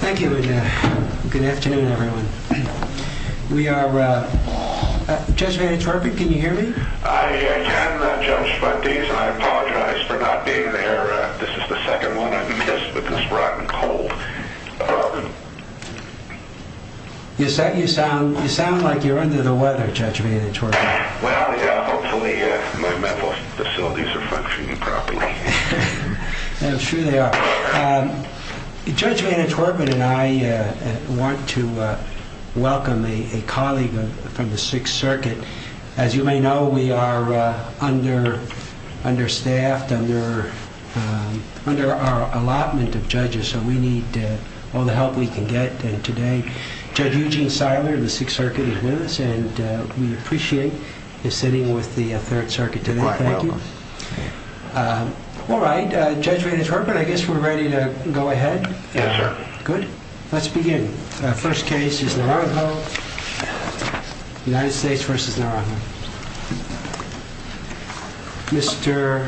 Thank you and good afternoon everyone. We are, Judge Vannetwerpen, can you hear me? I can, Judge Fuentes, and I apologize for not being there. This is the second one I've missed with this rotten cold. You sound like you're under the weather, Judge Vannetwerpen. Well, hopefully my mental facilities are functioning properly. I'm sure they are. Judge Vannetwerpen and I want to welcome a colleague from the Sixth Circuit. As you may know, we are understaffed, under our allotment of judges, so we need all the help we can get today. Judge Eugene Seiler of the Sixth Circuit is with us, and we appreciate his sitting with the Third Circuit today. You're quite welcome. All right, Judge Vannetwerpen, I guess we're ready to go ahead? Yeah. Good. Let's begin. First case is Naranjo, United States v. Naranjo. Mr.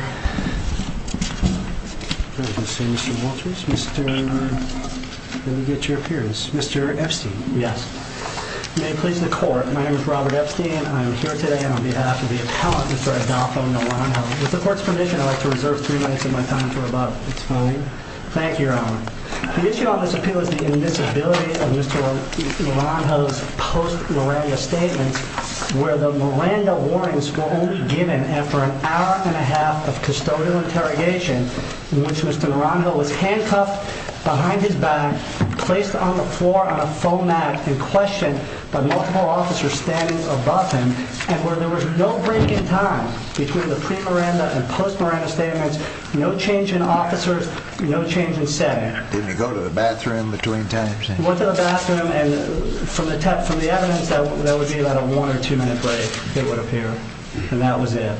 Wolters, let me get your appearance. Mr. Epstein. Yes. May it please the Court, my name is Robert Epstein. I am here today on behalf of the appellant, Mr. Adolfo Naranjo. With the Court's permission, I'd like to reserve three minutes of my time for about a time. Thank you, Your Honor. The issue on this appeal is the invisibility of Mr. Naranjo's post-Miranda statements, where the Miranda warnings were only given after an hour and a half of custodial interrogation, in which Mr. Naranjo was handcuffed behind his back, placed on the floor on a foam mat, and questioned by multiple officers standing above him, and where there was no break in time between the pre-Miranda and post-Miranda statements, no change in officers, no change in setting. Didn't he go to the bathroom between times? Went to the bathroom, and from the evidence, that would be about a one or two minute break, it would appear. And that was it.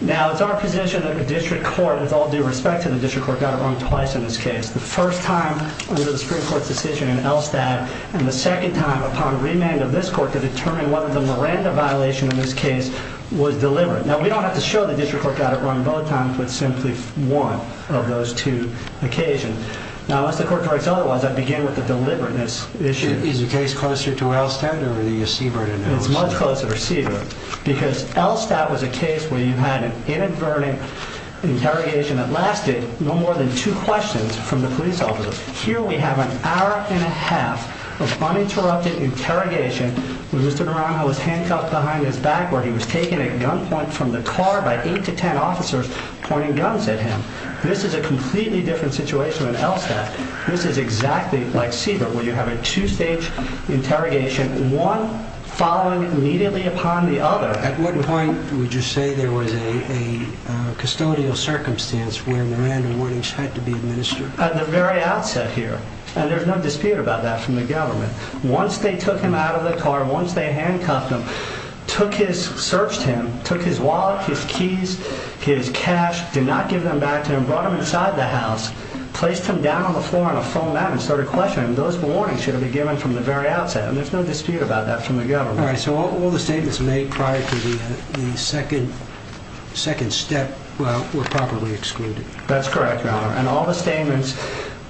Now, it's our position that the District Court, with all due respect to the District Court, got it wrong twice in this case. The first time, under the Supreme Court's decision in Elstad, and the second time, upon remand of this Court, to determine whether the Miranda violation in this case was deliberate. Now, we don't have to show the District Court got it wrong both times, but simply one of those two occasions. Now, unless the Court corrects otherwise, I'd begin with the deliberateness issue. Is the case closer to Elstad, or the Siebert in Elstad? It's much closer to Siebert, because Elstad was a case where you had an inadvertent interrogation that lasted no more than two questions from the police officers. Here we have an hour and a half of uninterrupted interrogation, where Mr. Naranjo was handcuffed behind his back, where he was taken at gunpoint from the car by eight to ten officers pointing guns at him. This is a completely different situation in Elstad. This is exactly like Siebert, where you have a two-stage interrogation, one following immediately upon the other. At what point would you say there was a custodial circumstance where Miranda warnings had to be administered? At the very outset, here. And there's no dispute about that from the government. Once they took him out of the car, once they handcuffed him, searched him, took his wallet, his keys, his cash, did not give them back to him, brought him inside the house, placed him down on the floor on a foam mat, and started questioning him, those warnings should have been given from the very outset. And there's no dispute about that from the government. All right, so all the statements made prior to the second step were properly excluded. That's correct, Your Honor. And all the statements,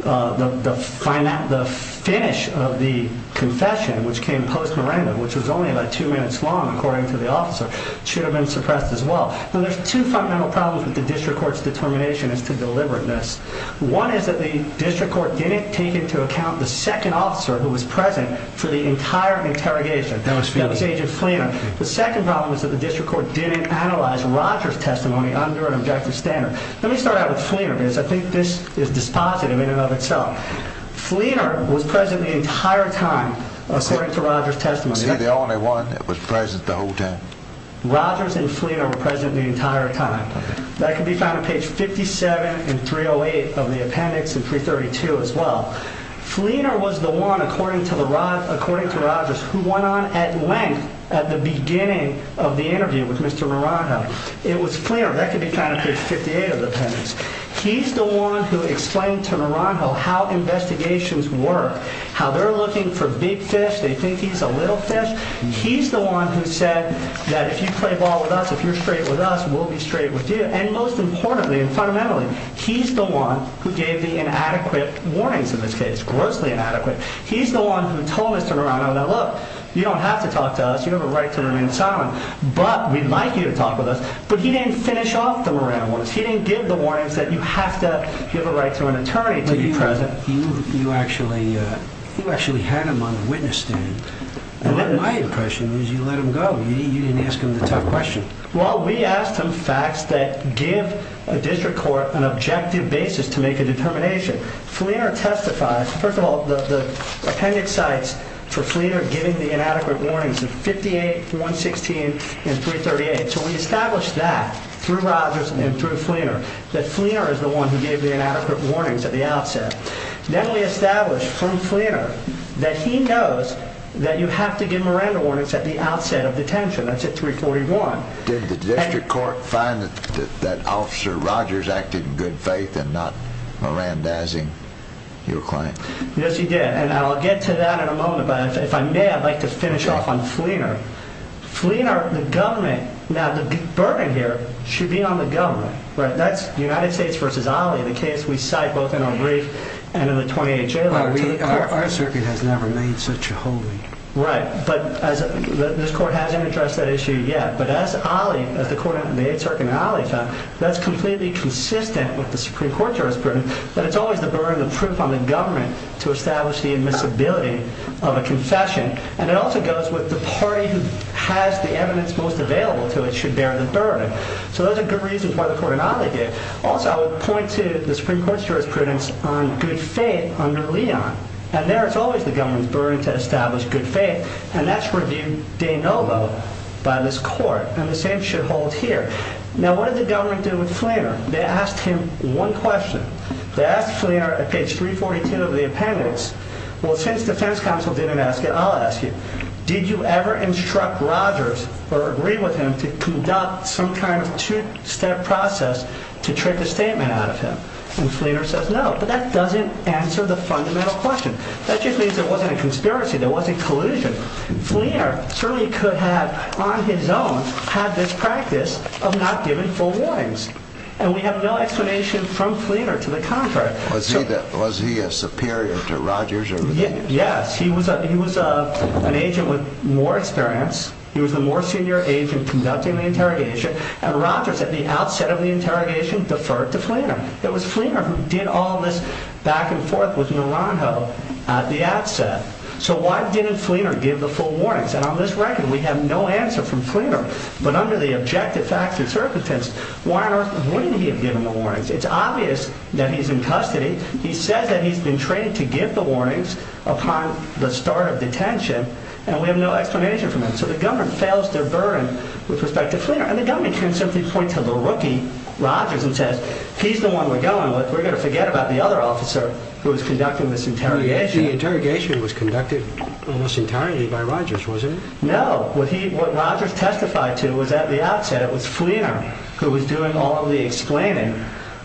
the finish of the confession, which came post-Miranda, which was only about two minutes long, according to the officer, should have been suppressed as well. Now, there's two fundamental problems with the district court's determination as to deliberateness. One is that the district court didn't take into account the second officer who was present for the entire interrogation. That was Agent Fleener. The second problem is that the district court didn't analyze Rogers' testimony under an objective standard. Let me start out with Fleener, because I think this is dispositive in and of itself. Fleener was present the entire time, according to Rogers' testimony. He was the only one that was present the whole time. Rogers and Fleener were present the entire time. That can be found on page 57 and 308 of the appendix and 332 as well. Fleener was the one, according to Rogers, who went on at length at the beginning of the interview with Mr. Miranda. It was clear. That can be found on page 58 of the appendix. He's the one who explained to Miranda how investigations work, how they're looking for big fish, they think he's a little fish. He's the one who said that if you play ball with us, if you're straight with us, we'll be straight with you. And most importantly and fundamentally, he's the one who gave the inadequate warnings in this case, grossly inadequate. He's the one who told Mr. Miranda, now look, you don't have to talk to us, you have a right to remain silent, but we'd like you to talk with us. But he didn't finish off the Miranda ones. He didn't give the warnings that you have to give a right to an attorney to be present. You actually had him on the witness stand. My impression is you let him go. You didn't ask him the tough question. Well, we asked him facts that give a district court an objective basis to make a determination. Fleener testifies. First of all, the appendix cites for Fleener giving the inadequate warnings of 58, 116, and 338. So we established that through Rogers and through Fleener, that Fleener is the one who gave the inadequate warnings at the outset. Then we established from Fleener that he knows that you have to give Miranda warnings at the outset of detention. That's at 341. Did the district court find that Officer Rogers acted in good faith and not Miranda-izing your claim? Yes, he did. And I'll get to that in a moment. But if I may, I'd like to finish off on Fleener. Fleener, the government, now the burden here should be on the government. That's United States v. Ali, the case we cite both in our brief and in the 28th Jail Act. Our circuit has never made such a holding. Right. But this court hasn't addressed that issue yet. But as the 8th Circuit and Ali found, that's completely consistent with the Supreme Court jurisprudence that it's always the burden of proof on the government to establish the admissibility of a confession. And it also goes with the party who has the evidence most available to it should bear the burden. So those are good reasons why the court and Ali did. Also, I would point to the Supreme Court jurisprudence on good faith under Leon. And there it's always the government's burden to establish good faith. And that's reviewed de novo by this court. And the same should hold here. Now, what did the government do with Fleener? They asked him one question. They asked Fleener at page 342 of the appendix. Well, since defense counsel didn't ask it, I'll ask you. Did you ever instruct Rogers or agree with him to conduct some kind of two-step process to trick a statement out of him? And Fleener says no. But that doesn't answer the fundamental question. That just means there wasn't a conspiracy. There wasn't collusion. Fleener certainly could have, on his own, had this practice of not giving full warnings. And we have no explanation from Fleener to the contrary. Was he a superior to Rogers? Yes, he was an agent with more experience. He was a more senior agent conducting the interrogation. And Rogers, at the outset of the interrogation, deferred to Fleener. It was Fleener who did all this back and forth with Naranjo at the outset. So why didn't Fleener give the full warnings? And on this record, we have no answer from Fleener. But under the objective facts and circumstance, why on earth wouldn't he have given the warnings? It's obvious that he's in custody. He says that he's been trained to give the warnings upon the start of detention. And we have no explanation from him. So the government fails their burden with respect to Fleener. And the government can simply point to the rookie, Rogers, and says, he's the one we're going with. We're going to forget about the other officer who was conducting this interrogation. The interrogation was conducted almost entirely by Rogers, wasn't it? No. What Rogers testified to was, at the outset, it was Fleener who was doing all of the explaining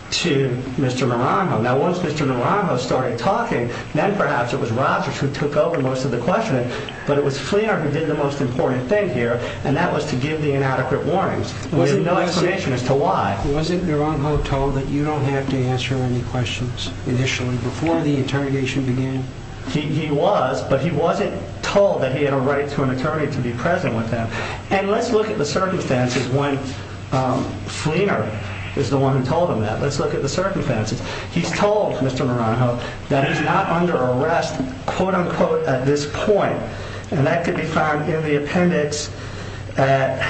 to Mr. Naranjo. Now, once Mr. Naranjo started talking, then perhaps it was Rogers who took over most of the questioning. But it was Fleener who did the most important thing here, and that was to give the inadequate warnings. There's no explanation as to why. Wasn't Naranjo told that you don't have to answer any questions initially before the interrogation began? He was, but he wasn't told that he had a right to an attorney to be present with him. And let's look at the circumstances when Fleener is the one who told him that. Let's look at the circumstances. He's told Mr. Naranjo that he's not under arrest, quote-unquote, at this point. And that could be found in the appendix at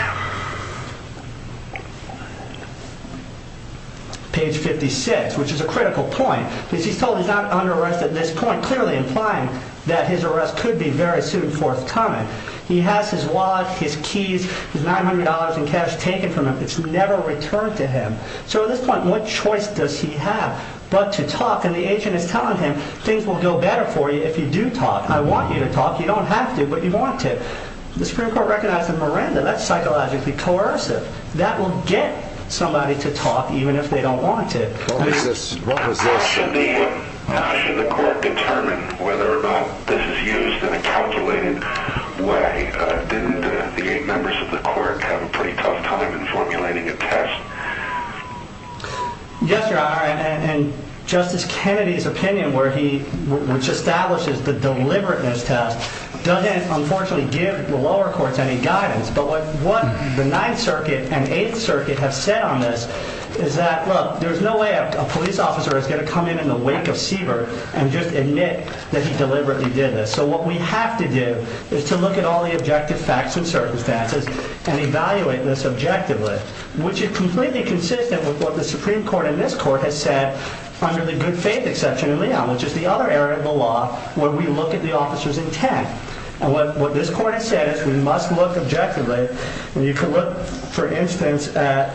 page 56, which is a critical point. Because he's told he's not under arrest at this point, clearly implying that his arrest could be very soon, fourth time. He has his wallet, his keys, his $900 in cash taken from him. It's never returned to him. So at this point, what choice does he have but to talk? And the agent is telling him, things will go better for you if you do talk. I want you to talk. You don't have to, but you want to. The Supreme Court recognized the miranda. That's psychologically coercive. That will get somebody to talk even if they don't want to. What was this? Should the court determine whether or not this is used in a calculated way? Didn't the eight members of the court have a pretty tough time in formulating a test? Yes, Your Honor. And Justice Kennedy's opinion, which establishes the deliberateness test, doesn't, unfortunately, give the lower courts any guidance. But what the Ninth Circuit and Eighth Circuit have said on this is that, look, there's no way a police officer is going to come in in the wake of Siebert and just admit that he deliberately did this. So what we have to do is to look at all the objective facts and circumstances and evaluate this objectively, which is completely consistent with what the Supreme Court in this court has said under the good faith exception in Leon, which is the other area of the law where we look at the officer's intent. And what this court has said is we must look objectively. And you can look, for instance, at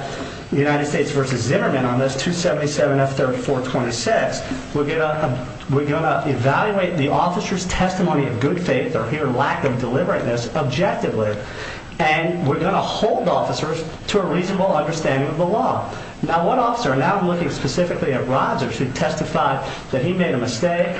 United States v. Zimmerman on this, 277F3426. We're going to evaluate the officer's testimony of good faith or lack of deliberateness objectively. And we're going to hold officers to a reasonable understanding of the law. Now, one officer, and now I'm looking specifically at Rodgers, who testified that he made a mistake,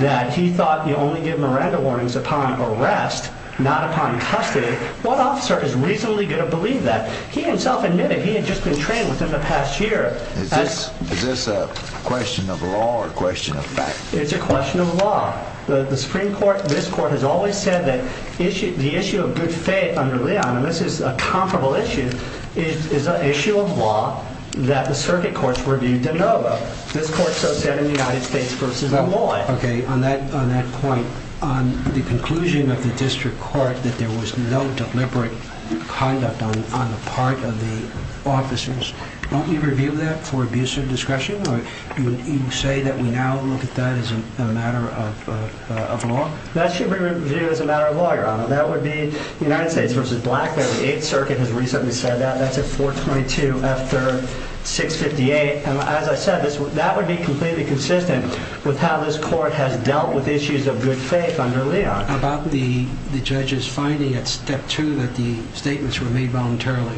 that he thought you only give Miranda warnings upon arrest, not upon custody. What officer is reasonably going to believe that? He himself admitted he had just been trained within the past year. Is this a question of law or a question of fact? It's a question of law. The Supreme Court in this court has always said that the issue of good faith under Leon, and this is a comparable issue, is an issue of law that the circuit courts were viewed to know about. This court so said in the United States v. Malloy. Okay, on that point, on the conclusion of the district court that there was no deliberate conduct on the part of the officers, won't you review that for abuse of discretion? Or would you say that we now look at that as a matter of law? That should be reviewed as a matter of law, Your Honor. That would be United States v. Blackburn. The Eighth Circuit has recently said that. That's at 422 after 658. As I said, that would be completely consistent with how this court has dealt with issues of good faith under Leon. About the judge's finding at step two that the statements were made voluntarily.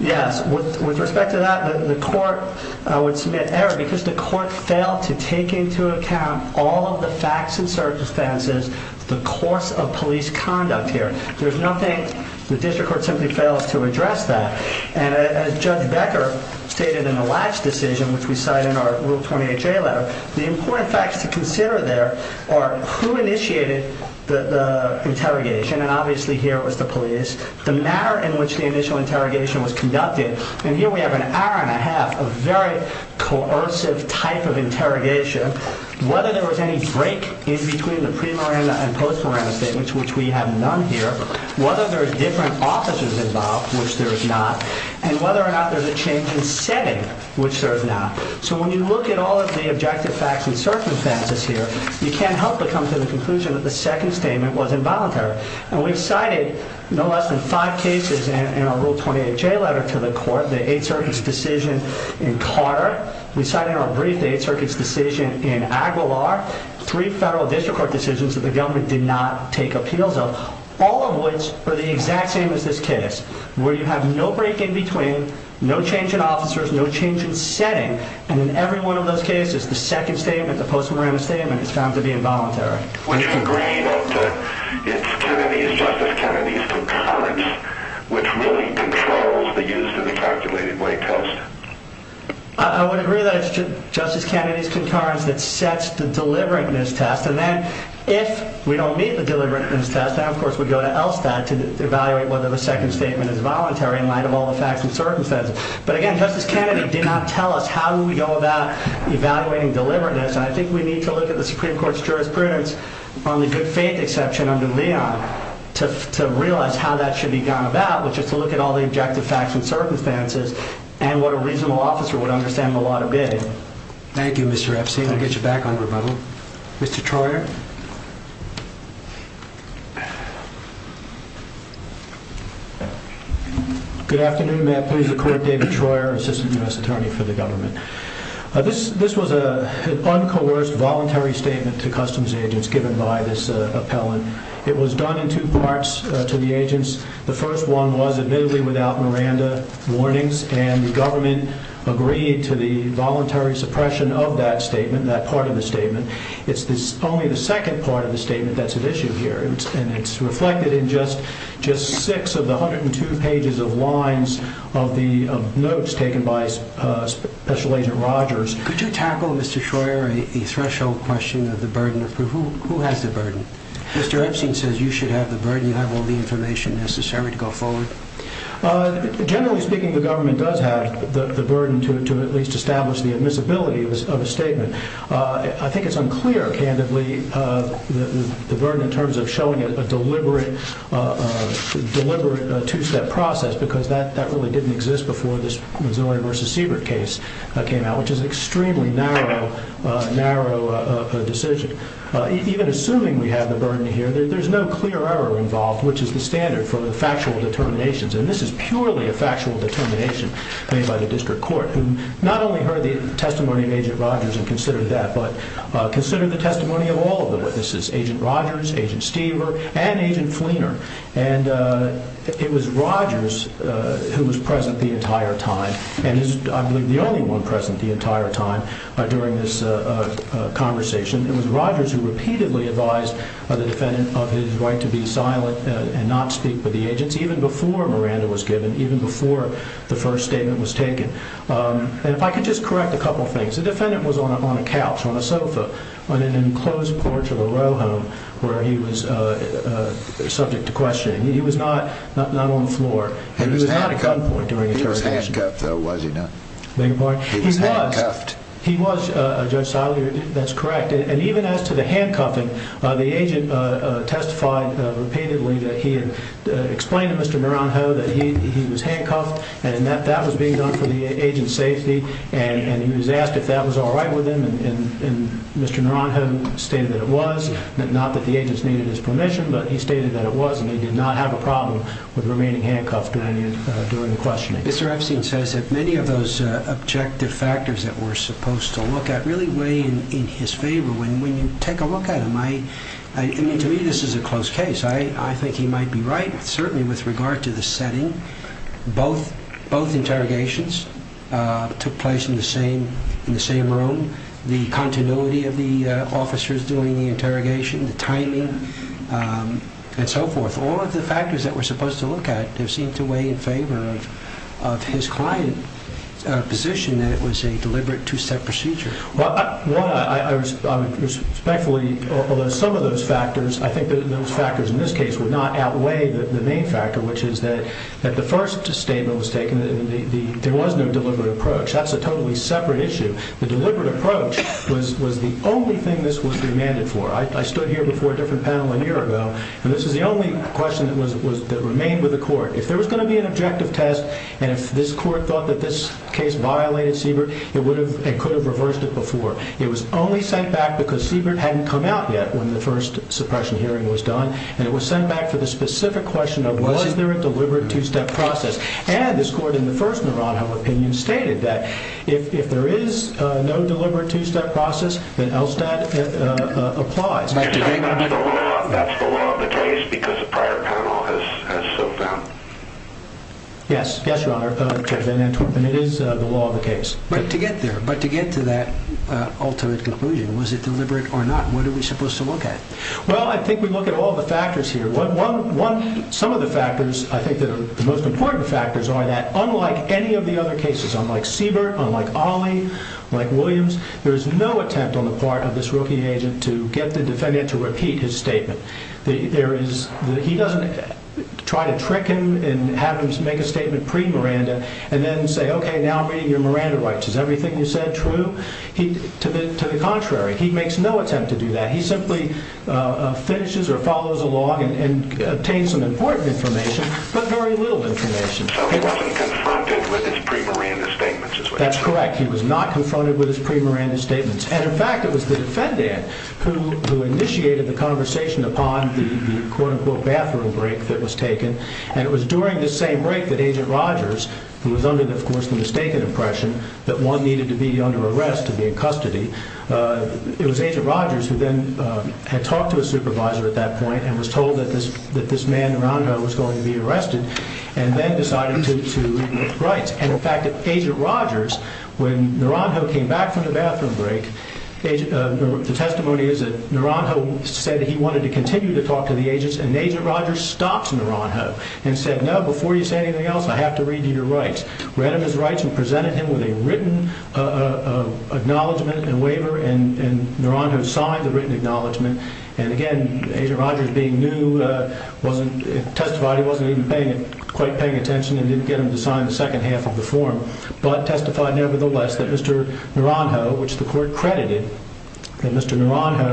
Yes, with respect to that, the court would submit error because the court failed to take into account all of the facts and circumstances of the course of police conduct here. There's nothing. The district court simply fails to address that. And as Judge Becker stated in the last decision, which we cite in our Rule 28 J letter, the important facts to consider there are who initiated the interrogation. And obviously here it was the police. The matter in which the initial interrogation was conducted. And here we have an hour and a half of very coercive type of interrogation. Whether there was any break in between the pre-Miranda and post-Miranda statements, which we have none here. Whether there are different officers involved, which there is not. And whether or not there's a change in setting, which there is not. So when you look at all of the objective facts and circumstances here, you can't help but come to the conclusion that the second statement was involuntary. And we've cited no less than five cases in our Rule 28 J letter to the court. The Eighth Circuit's decision in Carter. We cite in our brief the Eighth Circuit's decision in Aguilar. Three federal district court decisions that the government did not take appeals of. All of which are the exact same as this case. Where you have no break in between. No change in officers. No change in setting. And in every one of those cases, the second statement, the post-Miranda statement, is found to be involuntary. Would you agree that it's Kennedy's, Justice Kennedy's concurrence, which really controls the use of the calculated weight test? I would agree that it's Justice Kennedy's concurrence that sets the deliberateness test. And then if we don't meet the deliberateness test, then of course we go to ELSTAT to evaluate whether the second statement is voluntary in light of all the facts and circumstances. But again, Justice Kennedy did not tell us how do we go about evaluating deliberateness. And I think we need to look at the Supreme Court's jurisprudence on the good faith exception under Leon to realize how that should be gone about, which is to look at all the objective facts and circumstances and what a reasonable officer would understand the law to be. Thank you, Mr. Epstein. I'll get you back on rebuttal. Thank you. Mr. Troyer. Good afternoon. May I please record David Troyer, Assistant U.S. Attorney for the Government. This was an uncoerced voluntary statement to customs agents given by this appellant. It was done in two parts to the agents. The first one was admittedly without Miranda warnings, and the government agreed to the voluntary suppression of that statement, that part of the statement. It's only the second part of the statement that's at issue here, and it's reflected in just six of the 102 pages of lines of notes taken by Special Agent Rogers. Could you tackle, Mr. Troyer, a threshold question of the burden of proof? Who has the burden? Mr. Epstein says you should have the burden. You have all the information necessary to go forward. Generally speaking, the government does have the burden to at least establish the admissibility of a statement. I think it's unclear, candidly, the burden in terms of showing a deliberate two-step process because that really didn't exist before this Missouri v. Siebert case came out, which is an extremely narrow decision. Even assuming we have the burden here, there's no clear error involved, which is the standard for the factual determinations, and this is purely a factual determination made by the district court, who not only heard the testimony of Agent Rogers and considered that but considered the testimony of all of them. This is Agent Rogers, Agent Stever, and Agent Fleener. It was Rogers who was present the entire time and is, I believe, the only one present the entire time during this conversation. It was Rogers who repeatedly advised the defendant of his right to be silent and not speak with the agents, even before Miranda was given, even before the first statement was taken. If I could just correct a couple of things. The defendant was on a couch, on a sofa, on an enclosed porch of a row home where he was subject to questioning. He was not on the floor. He was handcuffed, though, was he not? He was handcuffed. He was, Judge Seiler, that's correct. Even as to the handcuffing, the agent testified repeatedly that he had explained to Mr. Naranjo that he was handcuffed and that that was being done for the agent's safety, and he was asked if that was all right with him, and Mr. Naranjo stated that it was, not that the agents needed his permission, but he stated that it was, and he did not have a problem with remaining handcuffed during the questioning. Mr. Epstein says that many of those objective factors that we're supposed to look at really weigh in his favor. When you take a look at him, I mean, to me this is a close case. I think he might be right, certainly with regard to the setting. Both interrogations took place in the same room. The continuity of the officers doing the interrogation, the timing, and so forth, all of the factors that we're supposed to look at do seem to weigh in favor of his client's position that it was a deliberate two-step procedure. Well, I would respectfully, although some of those factors, I think that those factors in this case would not outweigh the main factor, which is that the first statement was taken that there was no deliberate approach. That's a totally separate issue. The deliberate approach was the only thing this was demanded for. I stood here before a different panel a year ago, and this is the only question that remained with the court. If there was going to be an objective test and if this court thought that this case violated Siebert, it could have reversed it before. It was only sent back because Siebert hadn't come out yet when the first suppression hearing was done, and it was sent back for the specific question of was there a deliberate two-step process. And this court, in the first Naranjo opinion, stated that if there is no deliberate two-step process, then Elstad applies. That's the law of the case because the prior panel has so found. Yes, yes, Your Honor. It is the law of the case. But to get there, but to get to that ultimate conclusion, was it deliberate or not? What are we supposed to look at? Well, I think we look at all the factors here. Some of the factors, I think, the most important factors are that, unlike any of the other cases, unlike Siebert, unlike Ali, like Williams, there is no attempt on the part of this rookie agent to get the defendant to repeat his statement. He doesn't try to trick him and have him make a statement pre-Miranda and then say, okay, now I'm reading your Miranda rights. Is everything you said true? To the contrary, he makes no attempt to do that. He simply finishes or follows along and obtains some important information, but very little information. So he wasn't confronted with his pre-Miranda statements, is what you're saying. That's correct. He was not confronted with his pre-Miranda statements. And, in fact, it was the defendant who initiated the conversation upon the quote-unquote bathroom break that was taken, and it was during this same break that Agent Rogers, who was under, of course, the mistaken impression that one needed to be under arrest to be in custody, it was Agent Rogers who then had talked to a supervisor at that point and was told that this man around her was going to be arrested and then decided to read her rights. And, in fact, Agent Rogers, when Naranjo came back from the bathroom break, the testimony is that Naranjo said he wanted to continue to talk to the agents, and Agent Rogers stopped Naranjo and said, no, before you say anything else, I have to read you your rights. Read him his rights and presented him with a written acknowledgment and waiver, and Naranjo signed the written acknowledgment. And, again, Agent Rogers, being new, testified he wasn't even quite paying attention and didn't get him to sign the second half of the form, but testified nevertheless that Mr. Naranjo, which the court credited, that Mr. Naranjo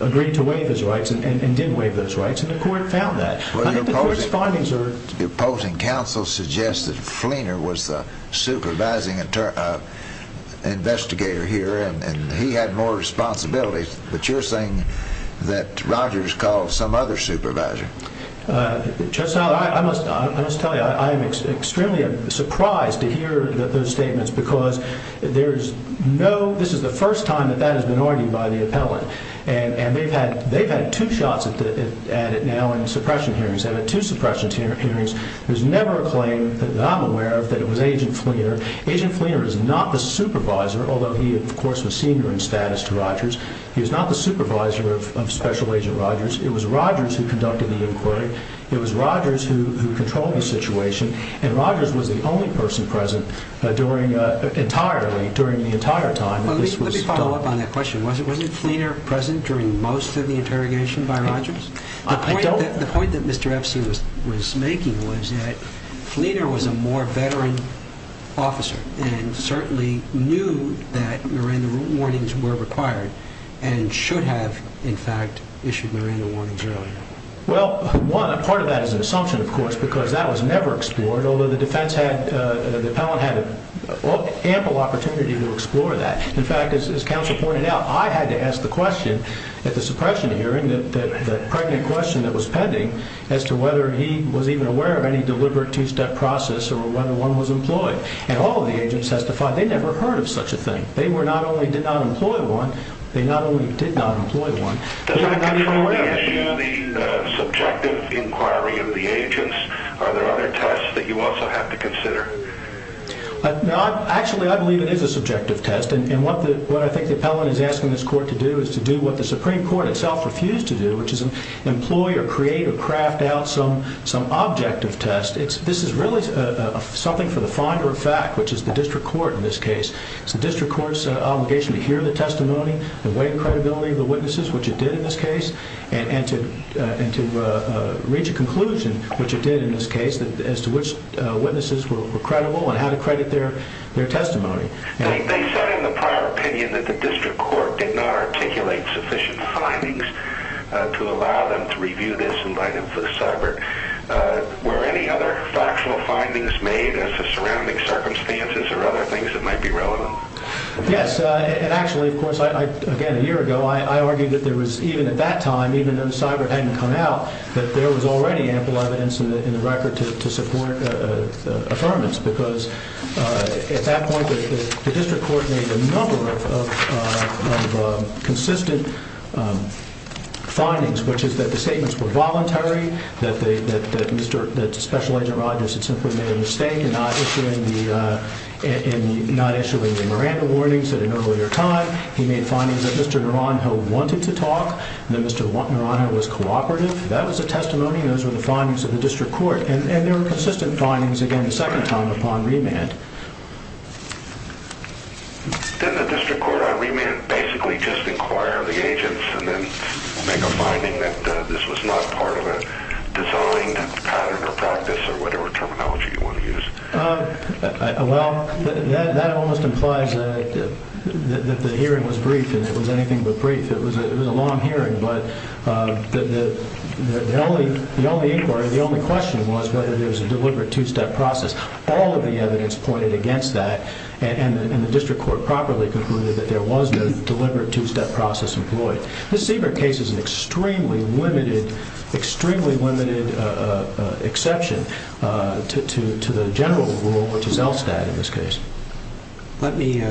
agreed to waive his rights and did waive those rights, and the court found that. I think the court's findings are... Your opposing counsel suggests that Fleener was the supervising investigator here and he had more responsibilities, but you're saying that Rogers called some other supervisor. Judge Tyler, I must tell you I am extremely surprised to hear those statements because this is the first time that that has been argued by the appellant, and they've had two shots at it now in suppression hearings. They've had two suppression hearings. There's never a claim that I'm aware of that it was Agent Fleener. Agent Fleener is not the supervisor, although he, of course, was senior in status to Rogers. He was not the supervisor of Special Agent Rogers. It was Rogers who conducted the inquiry. It was Rogers who controlled the situation, and Rogers was the only person present during the entire time that this was done. Let me follow up on that question. Wasn't Fleener present during most of the interrogation by Rogers? The point that Mr. Epstein was making was that Fleener was a more veteran officer and certainly knew that Miranda warnings were required and should have, in fact, issued Miranda warnings earlier. Well, one, a part of that is an assumption, of course, because that was never explored, although the defense had, the appellant had ample opportunity to explore that. In fact, as counsel pointed out, I had to ask the question at the suppression hearing, the pregnant question that was pending, as to whether he was even aware of any deliberate two-step process or whether one was employed, and all of the agents testified they never heard of such a thing. They were not only did not employ one, they not only did not employ one. Does that control the issue of the subjective inquiry of the agents? Are there other tests that you also have to consider? Actually, I believe it is a subjective test, and what I think the appellant is asking this court to do is to do what the Supreme Court itself refused to do, which is employ or create or craft out some objective test. This is really something for the finder of fact, which is the district court in this case. It is the district court's obligation to hear the testimony, the weight and credibility of the witnesses, which it did in this case, and to reach a conclusion, which it did in this case, as to which witnesses were credible and how to credit their testimony. They said in the prior opinion that the district court did not articulate sufficient findings to allow them to review this and write it for the cyber. Were any other factual findings made as to surrounding circumstances or other things that might be relevant? Yes, and actually, of course, again, a year ago, I argued that there was, even at that time, even though the cyber hadn't come out, that there was already ample evidence in the record to support the affirmance, because at that point, the district court made a number of consistent findings, which is that the statements were voluntary, that Special Agent Rodgers had simply made a mistake in not issuing the Miranda warnings at an earlier time. He made findings that Mr. Naranjo wanted to talk, that Mr. Naranjo was cooperative. That was a testimony. Those were the findings of the district court, and there were consistent findings, again, the second time upon remand. Didn't the district court on remand basically just inquire the agents and then make a finding that this was not part of a designed pattern or practice or whatever terminology you want to use? Well, that almost implies that the hearing was brief, and it was anything but brief. It was a long hearing, but the only inquiry, the only question was whether there was a deliberate two-step process. All of the evidence pointed against that, and the district court properly concluded that there was no deliberate two-step process employed. The Siebert case is an extremely limited exception to the general rule, which is ELSTAT in this case. Let me,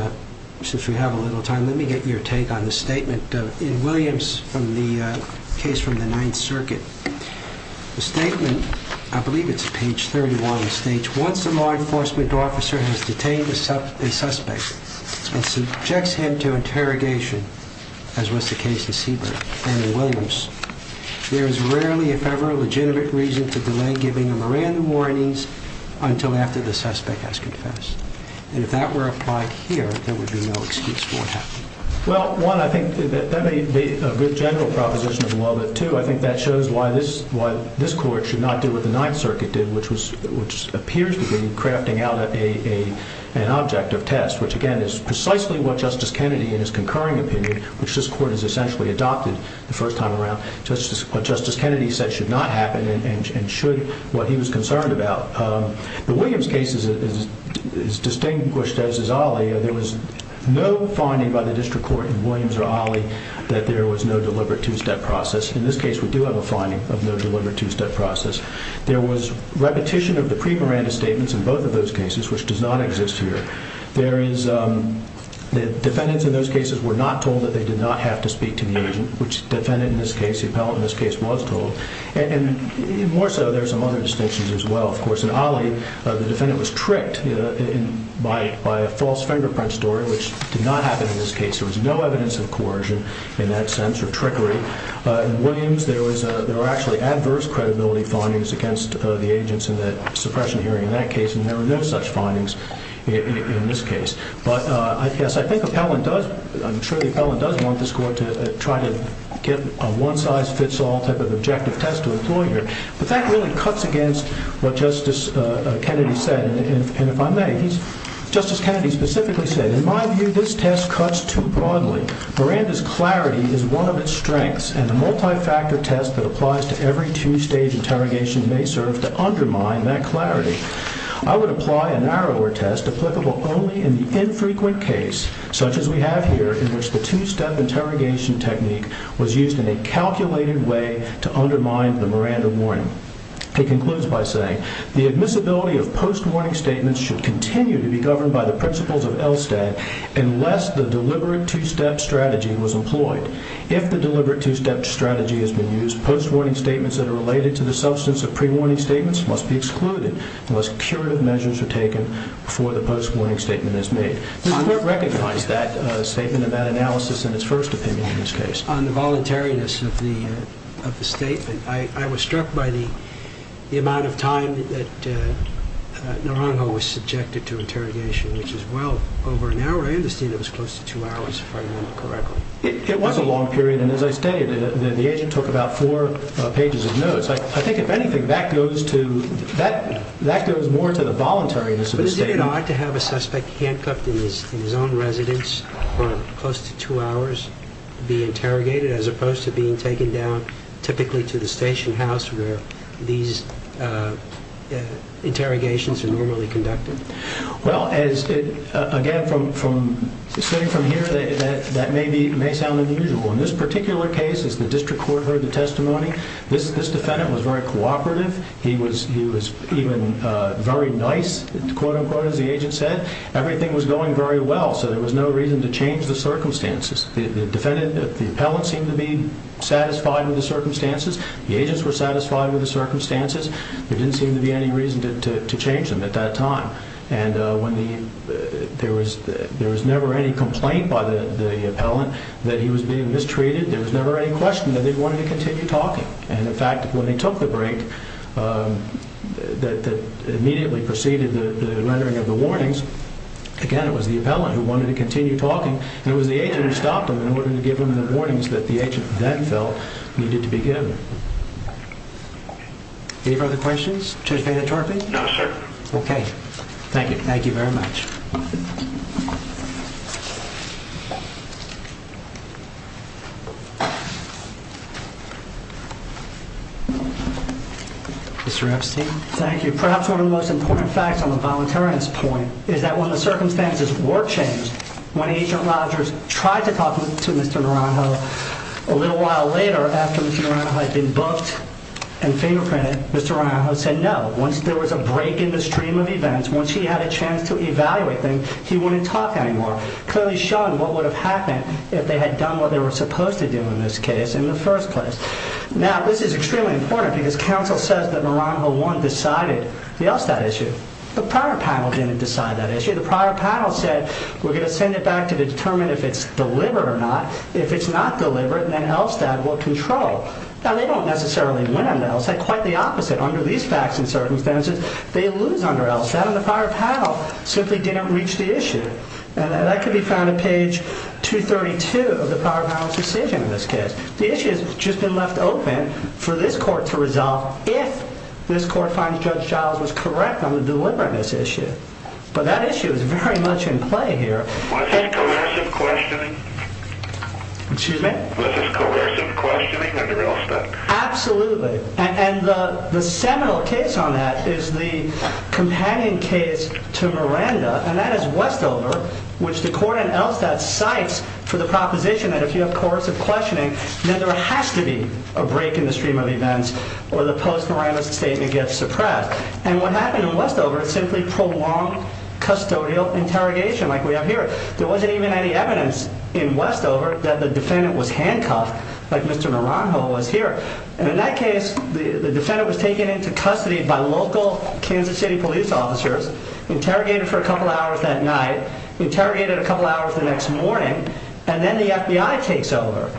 since we have a little time, let me get your take on the statement in Williams from the case from the Ninth Circuit. The statement, I believe it's page 31, states, Once a law enforcement officer has detained a suspect and subjects him to interrogation, as was the case in Siebert and in Williams, there is rarely, if ever, a legitimate reason to delay giving him a random warnings until after the suspect has confessed. And if that were applied here, there would be no excuse for what happened. Well, one, I think that may be a good general proposition as well, but two, I think that shows why this court should not do what the Ninth Circuit did, which appears to be crafting out an object of test, which again is precisely what Justice Kennedy, in his concurring opinion, which this court has essentially adopted the first time around, what Justice Kennedy said should not happen and should, what he was concerned about. The Williams case is distinguished as is Ali. There was no finding by the district court in Williams or Ali that there was no deliberate two-step process. In this case, we do have a finding of no deliberate two-step process. There was repetition of the pre-Miranda statements in both of those cases, which does not exist here. There is, the defendants in those cases were not told that they did not have to speak to the agent, which the defendant in this case, the appellant in this case, was told. And more so, there are some other distinctions as well. Of course, in Ali, the defendant was tricked by a false fingerprint story, which did not happen in this case. There was no evidence of coercion in that sense or trickery. In Williams, there were actually adverse credibility findings against the agents in the suppression hearing in that case, and there were no such findings in this case. But, yes, I think the appellant does, I'm sure the appellant does want this court to try to get a one-size-fits-all type of objective test to employ here. But that really cuts against what Justice Kennedy said, and if I may, Justice Kennedy specifically said, In my view, this test cuts too broadly. Miranda's clarity is one of its strengths, and the multi-factor test that applies to every two-stage interrogation may serve to undermine that clarity. I would apply a narrower test applicable only in the infrequent case, such as we have here, in which the two-step interrogation technique was used in a calculated way to undermine the Miranda warning. It concludes by saying, The admissibility of post-warning statements should continue to be governed by the principles of ELSTAT unless the deliberate two-step strategy was employed. If the deliberate two-step strategy has been used, post-warning statements that are related to the substance of pre-warning statements must be excluded unless curative measures are taken before the post-warning statement is made. The court recognized that statement and that analysis in its first opinion in this case. On the voluntariness of the statement, I was struck by the amount of time that Naranjo was subjected to interrogation, which is well over an hour. I understand it was close to two hours, if I remember correctly. It was a long period, and as I stated, the agent took about four pages of notes. I think, if anything, that goes more to the voluntariness of the statement. But isn't it odd to have a suspect handcuffed in his own residence for close to two hours to be interrogated as opposed to being taken down typically to the station house where these interrogations are normally conducted? Well, again, sitting from here, that may sound unusual. In this particular case, as the district court heard the testimony, this defendant was very cooperative. He was even very nice, quote-unquote, as the agent said. Everything was going very well, so there was no reason to change the circumstances. The defendant, the appellant, seemed to be satisfied with the circumstances. The agents were satisfied with the circumstances. There didn't seem to be any reason to change them at that time. And there was never any complaint by the appellant that he was being mistreated. There was never any question that they wanted to continue talking. And, in fact, when they took the break that immediately preceded the rendering of the warnings, again, it was the appellant who wanted to continue talking, and it was the agent who stopped him in order to give him the warnings that the agent then felt needed to be given. Any further questions? Chief Anatole? No, sir. Okay. Thank you. Thank you very much. Mr. Epstein? Thank you. Perhaps one of the most important facts on the voluntariness point is that when the circumstances were changed, when Agent Rogers tried to talk to Mr. Naranjo a little while later, after Mr. Naranjo had been booked and fingerprinted, Mr. Naranjo said no. Once there was a break in the stream of events, once he had a chance to evaluate things, he wouldn't talk anymore, clearly showing what would have happened if they had done what they were supposed to do in this case in the first place. Now, this is extremely important, because counsel says that Naranjo 1 decided the Elstad issue. The prior panel didn't decide that issue. The prior panel said, we're going to send it back to determine if it's delivered or not. If it's not delivered, then Elstad will control. Now, they don't necessarily win on the Elstad. Quite the opposite. Under these facts and circumstances, they lose under Elstad, and the prior panel simply didn't reach the issue. And that can be found on page 232 of the prior panel's decision in this case. The issue has just been left open for this court to resolve if this court finds Judge Giles was correct on delivering this issue. But that issue is very much in play here. Was this coercive questioning? Excuse me? Was this coercive questioning under Elstad? Absolutely. And the seminal case on that is the companion case to Miranda, and that is Westover, which the court in Elstad cites for the proposition that if you have coercive questioning, then there has to be a break in the stream of events or the post-Miranda statement gets suppressed. And what happened in Westover is simply prolonged custodial interrogation like we have here. There wasn't even any evidence in Westover that the defendant was handcuffed like Mr. Naranjo was here. And in that case, the defendant was taken into custody by local Kansas City police officers, interrogated for a couple hours that night, interrogated a couple hours the next morning, and then the FBI takes over.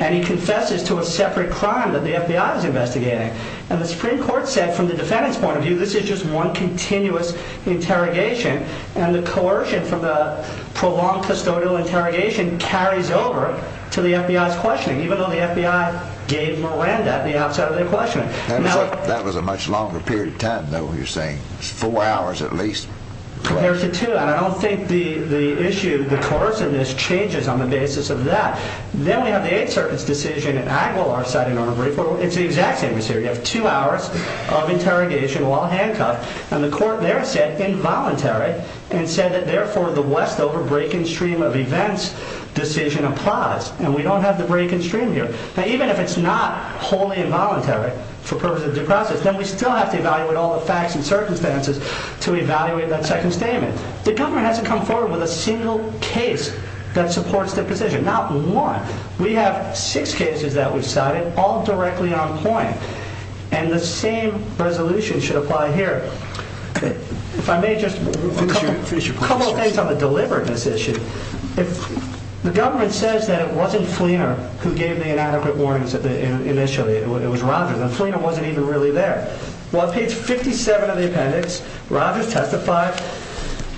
And he confesses to a separate crime that the FBI was investigating. And the Supreme Court said, from the defendant's point of view, this is just one continuous interrogation, and the coercion from the prolonged custodial interrogation carries over to the FBI's questioning, even though the FBI gave Miranda the outside of their questioning. That was a much longer period of time, though, you're saying. Four hours at least? Compared to two. And I don't think the issue, the coerciveness, changes on the basis of that. Then we have the Eighth Circuit's decision in Aguilar, Sotomayor, it's the exact same as here. You have two hours of interrogation while handcuffed, and the court there said involuntary, and said that therefore the Westover break-in stream of events decision applies. And we don't have the break-in stream here. Now even if it's not wholly involuntary for purposes of due process, then we still have to evaluate all the facts and circumstances to evaluate that second statement. The government hasn't come forward with a single case that supports their position, not one. We have six cases that we've cited, all directly on point. And the same resolution should apply here. If I may just finish a couple of things on the deliberateness issue. The government says that it wasn't Fleener who gave the inadequate warnings initially, it was Rogers, and Fleener wasn't even really there. Well, on page 57 of the appendix, Rogers testified,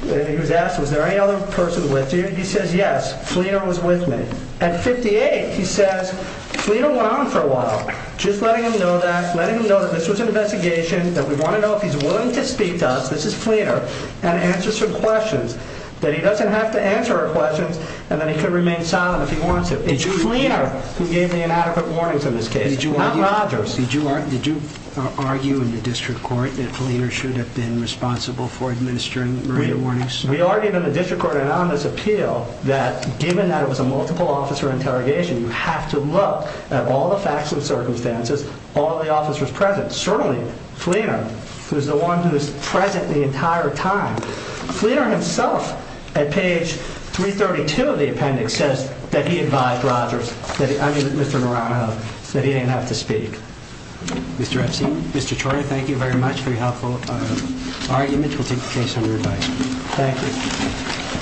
and he was asked, was there any other person with you? He says, yes, Fleener was with me. At 58, he says, Fleener went on for a while, just letting him know that, letting him know that this was an investigation, that we want to know if he's willing to speak to us, this is Fleener, and answer some questions, that he doesn't have to answer our questions, and that he can remain silent if he wants to. It's Fleener who gave the inadequate warnings in this case, not Rogers. Did you argue in the district court that Fleener should have been responsible for administering the warnings? We argued in the district court, and on this appeal, that given that it was a multiple officer interrogation, you have to look at all the facts and circumstances, all the officers present. Certainly, Fleener, who's the one who's present the entire time, Fleener himself, at page 332 of the appendix, says that he advised Rogers, I mean, Mr. Murano, that he didn't have to speak. Mr. Epstein, Mr. Troy, thank you very much for your helpful argument. We'll take the case under review. Thank you.